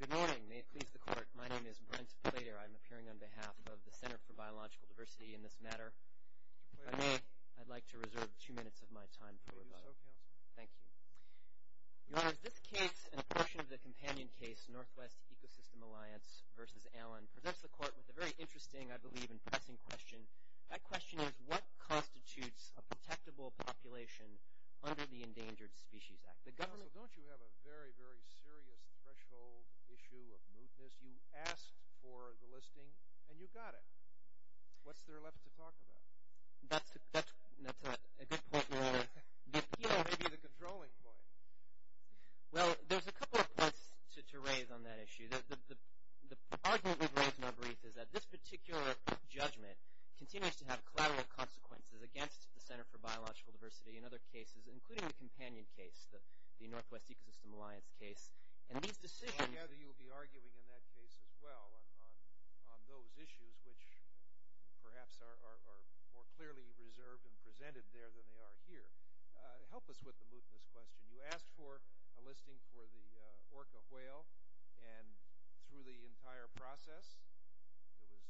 Good morning. May it please the Court, my name is Brent Plater. I am appearing on behalf of the Center for Biological Diversity in this matter. If I may, I'd like to reserve two minutes of my time for rebuttal. Thank you. Your Honor, this case and a portion of the companion case, Northwest Ecosystem Alliance v. Allen, presents the Court with a very interesting, I believe, and pressing question. That question is, what constitutes a protectable population under the Endangered Species Act? The government... Counsel, don't you have a very, very serious threshold issue of mootness? You asked for the listing, and you got it. What's there left to talk about? That's a good point, Your Honor. The appeal may be the controlling point. Well, there's a couple of points to raise on that issue. The argument we've raised in our brief is that this particular judgment continues to have collateral consequences against the Center for including the companion case, the Northwest Ecosystem Alliance case, and these decisions... I gather you'll be arguing in that case as well on those issues, which perhaps are more clearly reserved and presented there than they are here. Help us with the mootness question. You asked for a listing for the orca whale, and through the entire process, it was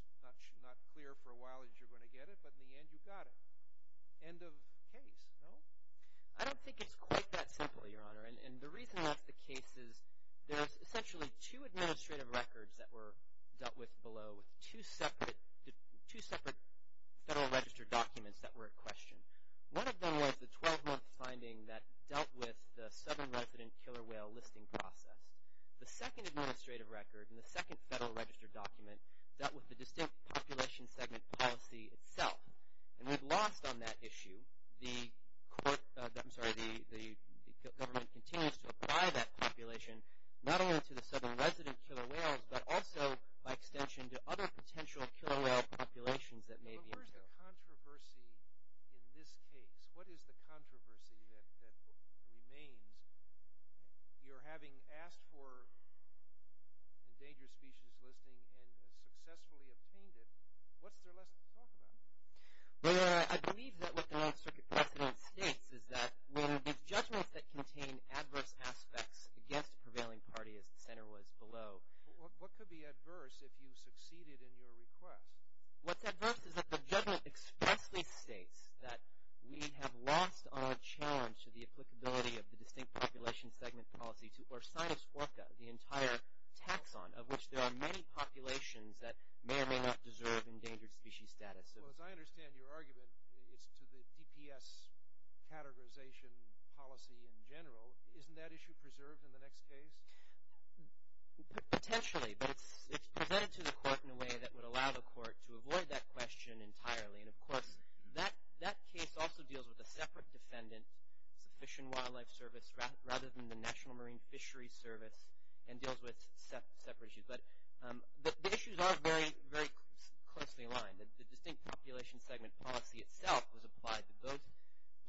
not clear for a while that you were going to get it, but in the end, you got it. End of case, no? I don't think it's quite that simple, Your Honor, and the reason that's the case is there's essentially two administrative records that were dealt with below with two separate Federal Register documents that were in question. One of them was the 12-month finding that dealt with the southern resident killer whale listing process. The second administrative record and the second Federal Register document dealt with the distinct population segment policy itself, and we've lost on that issue. The government continues to apply that population not only to the southern resident killer whales, but also by extension to other potential killer whale populations that may be... Where's the controversy in this case? What is the controversy that remains? You're having asked for a dangerous species listing and successfully obtained it. What's there less to talk about? Well, Your Honor, I believe that what the Ninth Circuit precedent states is that when the judgments that contain adverse aspects against a prevailing party, as the center was below... What could be adverse if you succeeded in your request? What's adverse is that the judgment expressly states that we have lost on a challenge to the applicability of the distinct population segment policy to Orcinus orca, the entire tax on which there are many populations that may or may not deserve endangered species status. Well, as I understand your argument, it's to the DPS categorization policy in general. Isn't that issue preserved in the next case? Potentially, but it's presented to the court in a way that would allow the court to avoid that question entirely. And of course, that case also deals with a separate defendant, Fish and Wildlife Service, rather than the National Marine Fisheries Service, and deals with separate issues. But the issues are very, very closely aligned. The distinct population segment policy itself was applied to both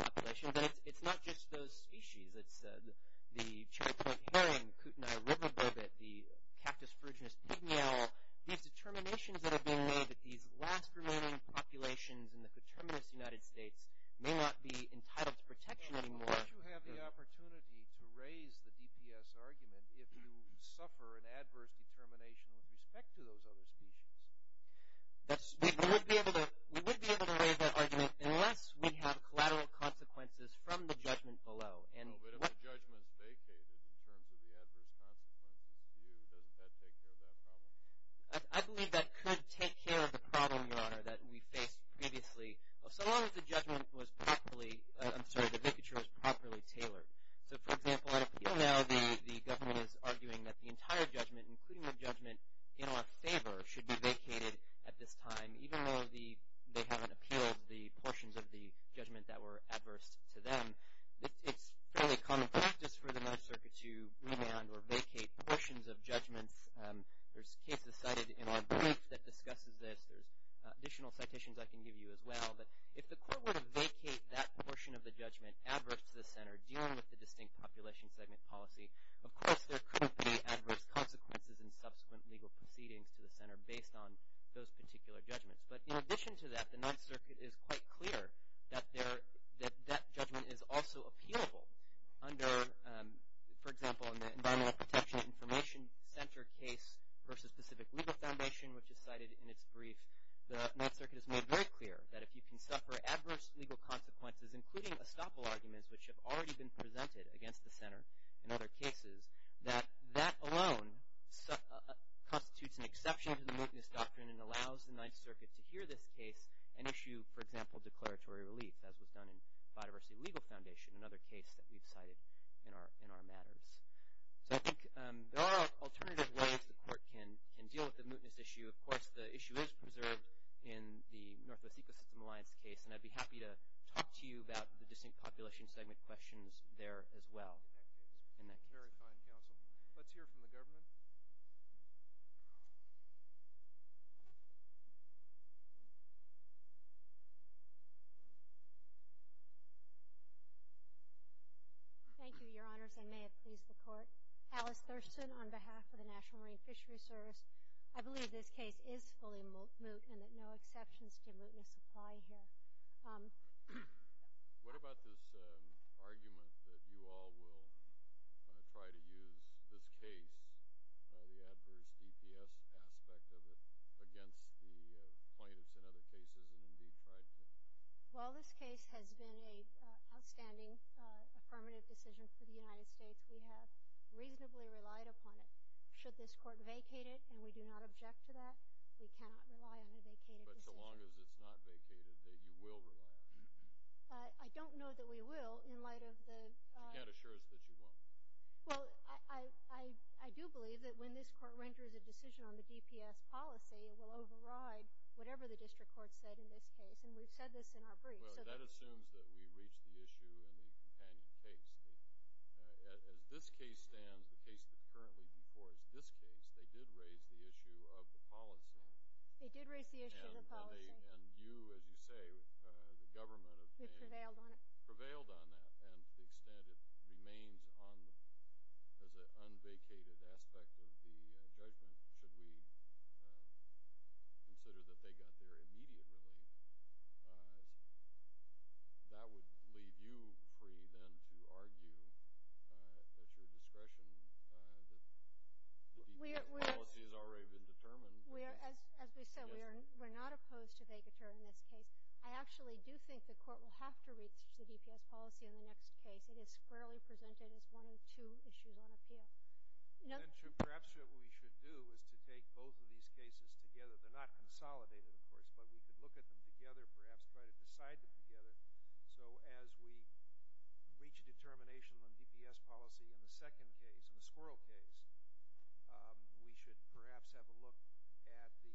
populations, but it's not just those species. It's the Cherry Point Herring, Kootenai River Bobbit, the Cactus Phrygianus pignale. These determinations that are being made that these last remaining populations in the determinist United States may not be entitled to protection anymore... ...or an adverse determination with respect to those other species. We would be able to waive that argument unless we have collateral consequences from the judgment below. But if the judgment is vacated in terms of the adverse consequences to you, doesn't that take care of that problem? I believe that could take care of the problem, your honor, that we faced previously. So long as the judgment was properly... I'm sorry, the vicature was properly tailored. So for example, at appeal now, the government is arguing that the entire judgment, including the judgment in our favor, should be vacated at this time, even though they haven't appealed the portions of the judgment that were adverse to them. It's fairly common practice for the Ninth Circuit to rebound or vacate portions of judgments. There's cases cited in our brief that discusses this. There's additional citations I can give you as well. But if the court were to vacate that portion of the judgment adverse to the center, dealing with the distinct population segment policy, of course there could be adverse consequences in subsequent legal proceedings to the center based on those particular judgments. But in addition to that, the Ninth Circuit is quite clear that that judgment is also appealable under, for example, in the Environmental Protection Information Center case versus Pacific Legal Foundation, which is cited in its brief. The Ninth Circuit has made very clear that if you can suffer adverse legal consequences, including estoppel arguments, which have already been presented against the center in other cases, that that alone constitutes an exception to the mootness doctrine and allows the Ninth Circuit to hear this case and issue, for example, declaratory relief, as was done in Biodiversity Legal Foundation, another case that we've cited in our matters. So I think there are alternative ways the court can deal with the mootness issue. Of course, the issue is preserved in the Northwest Ecosystem Alliance case, and I'd be happy to talk to you about the distinct population segment questions there as well in that case. Very fine, counsel. Let's hear from the government. Thank you, Your Honors. I may have pleased the court. Alice Thurston, on behalf of the National Marine Fisheries Service, I believe this case is fully moot and that no exceptions to mootness apply here. What about this argument that you all will try to use this case, the adverse DPS aspect of it, against the plaintiffs in other cases and indeed tried to? While this case has been an outstanding affirmative decision for the United States, we have reasonably relied upon it. Should this court vacate it, and we do not object to that, we cannot rely on a vacated decision. But so long as it's not vacated, you will rely on it. But I don't know that we will in light of the... You can't assure us that you won't. Well, I do believe that when this court renders a decision on the DPS policy, it will override whatever the district court said in this case, and we've said this in our brief. That assumes that we reach the issue in the companion case. As this case stands, the case that's currently before us, this case, they did raise the issue of the policy. They did raise the issue of the policy. And you, as you say, the government of Maine... Prevailed on it. Prevailed on that, and to the extent it remains as an unvacated aspect of the judgment, should we consider that they got their immediate relief, that would leave you free then to argue at your discretion that the DPS policy has already been determined. We are, as we said, we're not opposed to vacating this case. I actually do think the court will have to reach the DPS policy in the next case. It is fairly presented as one of two issues on appeal. And perhaps what we should do is to take both of these cases together. They're not consolidated, of course, but we could look at them together, perhaps try to decide them together. So as we reach a determination on DPS policy in the second case, in the squirrel case, we should perhaps have a look at the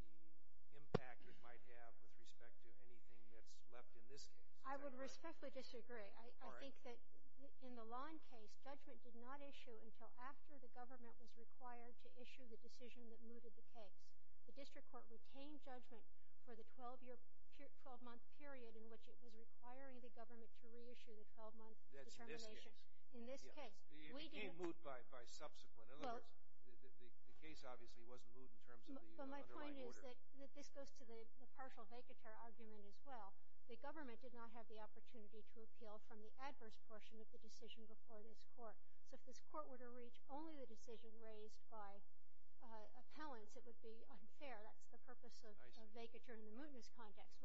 impact it might have with respect to anything that's left in this case. I would respectfully disagree. I think that in the lawn case, judgment did not issue until after the government was required to issue the decision that mooted the case. The district court retained judgment for the 12-month period in which it was requiring the government to reissue the 12-month determination. That's in this case. In this case. It became moot by subsequent. In other words, the case obviously wasn't moot in terms of the underlying order. But my point is that this goes to the partial vacateur argument as well. The government did not have the opportunity to appeal from the adverse portion of the decision before this court. So if this court were to reach only the decision raised by appellants, it would be unfair. That's the purpose of vacature in the mootness context.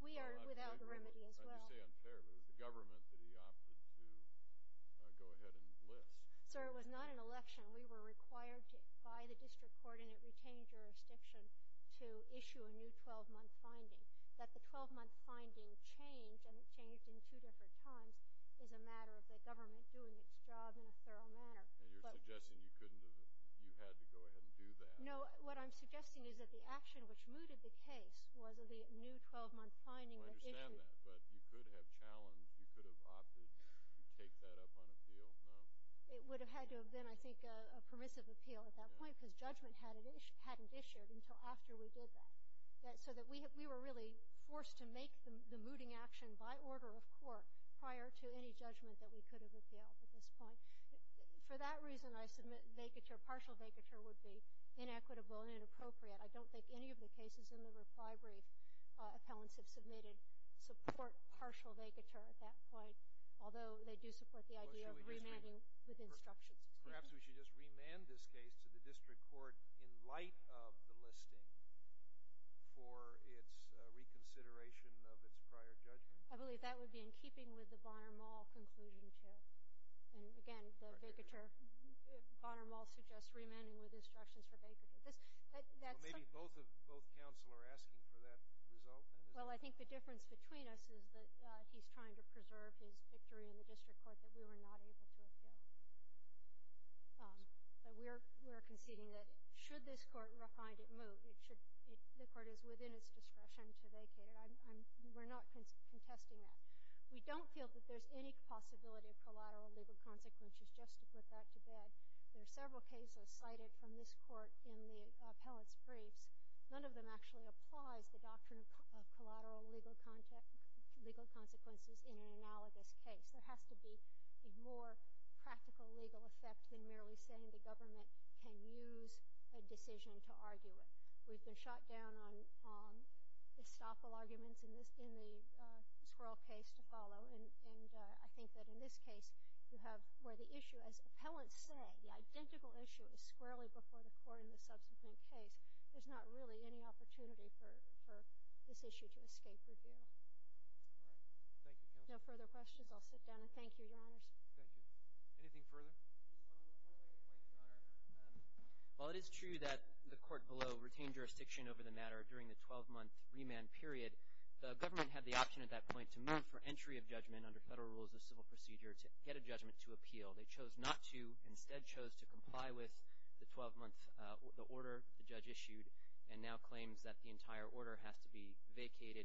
We are without remedy as well. I do say unfair, but it was the government that he opted to go ahead and list. Sir, it was not an election. We were required by the district court, and it retained jurisdiction, to issue a new 12-month finding. That the 12-month finding changed, and it changed in two different times, is a matter of the government doing its job in a thorough manner. And you're suggesting you couldn't have, you had to go ahead and do that. No, what I'm suggesting is that the action which mooted the case was the new 12-month finding that issued. I understand that, but you could have challenged, you could have opted to take that up on appeal, no? It would have had to have been, I think, a permissive appeal at that point because judgment hadn't issued until after we did that. So that we were really forced to make the mooting action by order of court prior to any judgment that we could have appealed at this point. For that reason, I submit vacature, partial vacature would be inequitable and inappropriate. I don't think any of the cases in the reply brief appellants have submitted support partial vacature at that point. Although they do support the idea of remanding with instructions. Perhaps we should just remand this case to the district court in light of the listing for its reconsideration of its prior judgment? I believe that would be in keeping with the Bonner-Mall conclusion, too. And again, the vacature, Bonner-Mall suggests remanding with instructions for vacature. This, that's- Maybe both of, both counsel are asking for that result, then? Well, I think the difference between us is that he's trying to preserve his victory in the district court that we were not able to appeal. But we're conceding that should this court find it moot, it should, the court is within its discretion to vacate it. We're not contesting that. We don't feel that there's any possibility of collateral legal consequences just to put that to bed. There are several cases cited from this court in the appellant's briefs. None of them actually applies the doctrine of collateral legal consequences in an analogous case. There has to be a more practical legal effect than merely saying the government can use a decision to argue it. We've been shot down on, on estoppel arguments in this, in the Squirrel case to follow. And, and I think that in this case, you have where the issue, as appellants say, the identical issue is squarely before the court in the subsequent case. There's not really any opportunity for, for this issue to escape review. All right. Thank you, counsel. If there's no further questions, I'll sit down and thank you, Your Honors. Thank you. Anything further? One more point, Your Honor. While it is true that the court below retained jurisdiction over the matter during the 12-month remand period, the government had the option at that point to move for entry of judgment under federal rules of civil procedure to get a judgment to appeal. They chose not to, instead chose to comply with the 12-month, the order the judge issued, and now claims that the entire order has to be vacated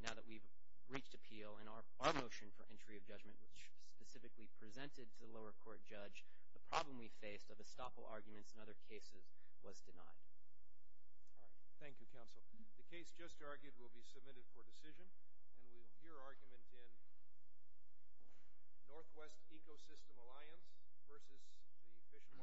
now that we've reached appeal. And our, our motion for entry of judgment was specifically presented to the lower court judge. The problem we faced of estoppel arguments in other cases was denied. All right. Thank you, counsel. The case just argued will be submitted for decision, and we'll hear argument in Northwest Ecosystem Alliance versus the Fish and Wildlife Service.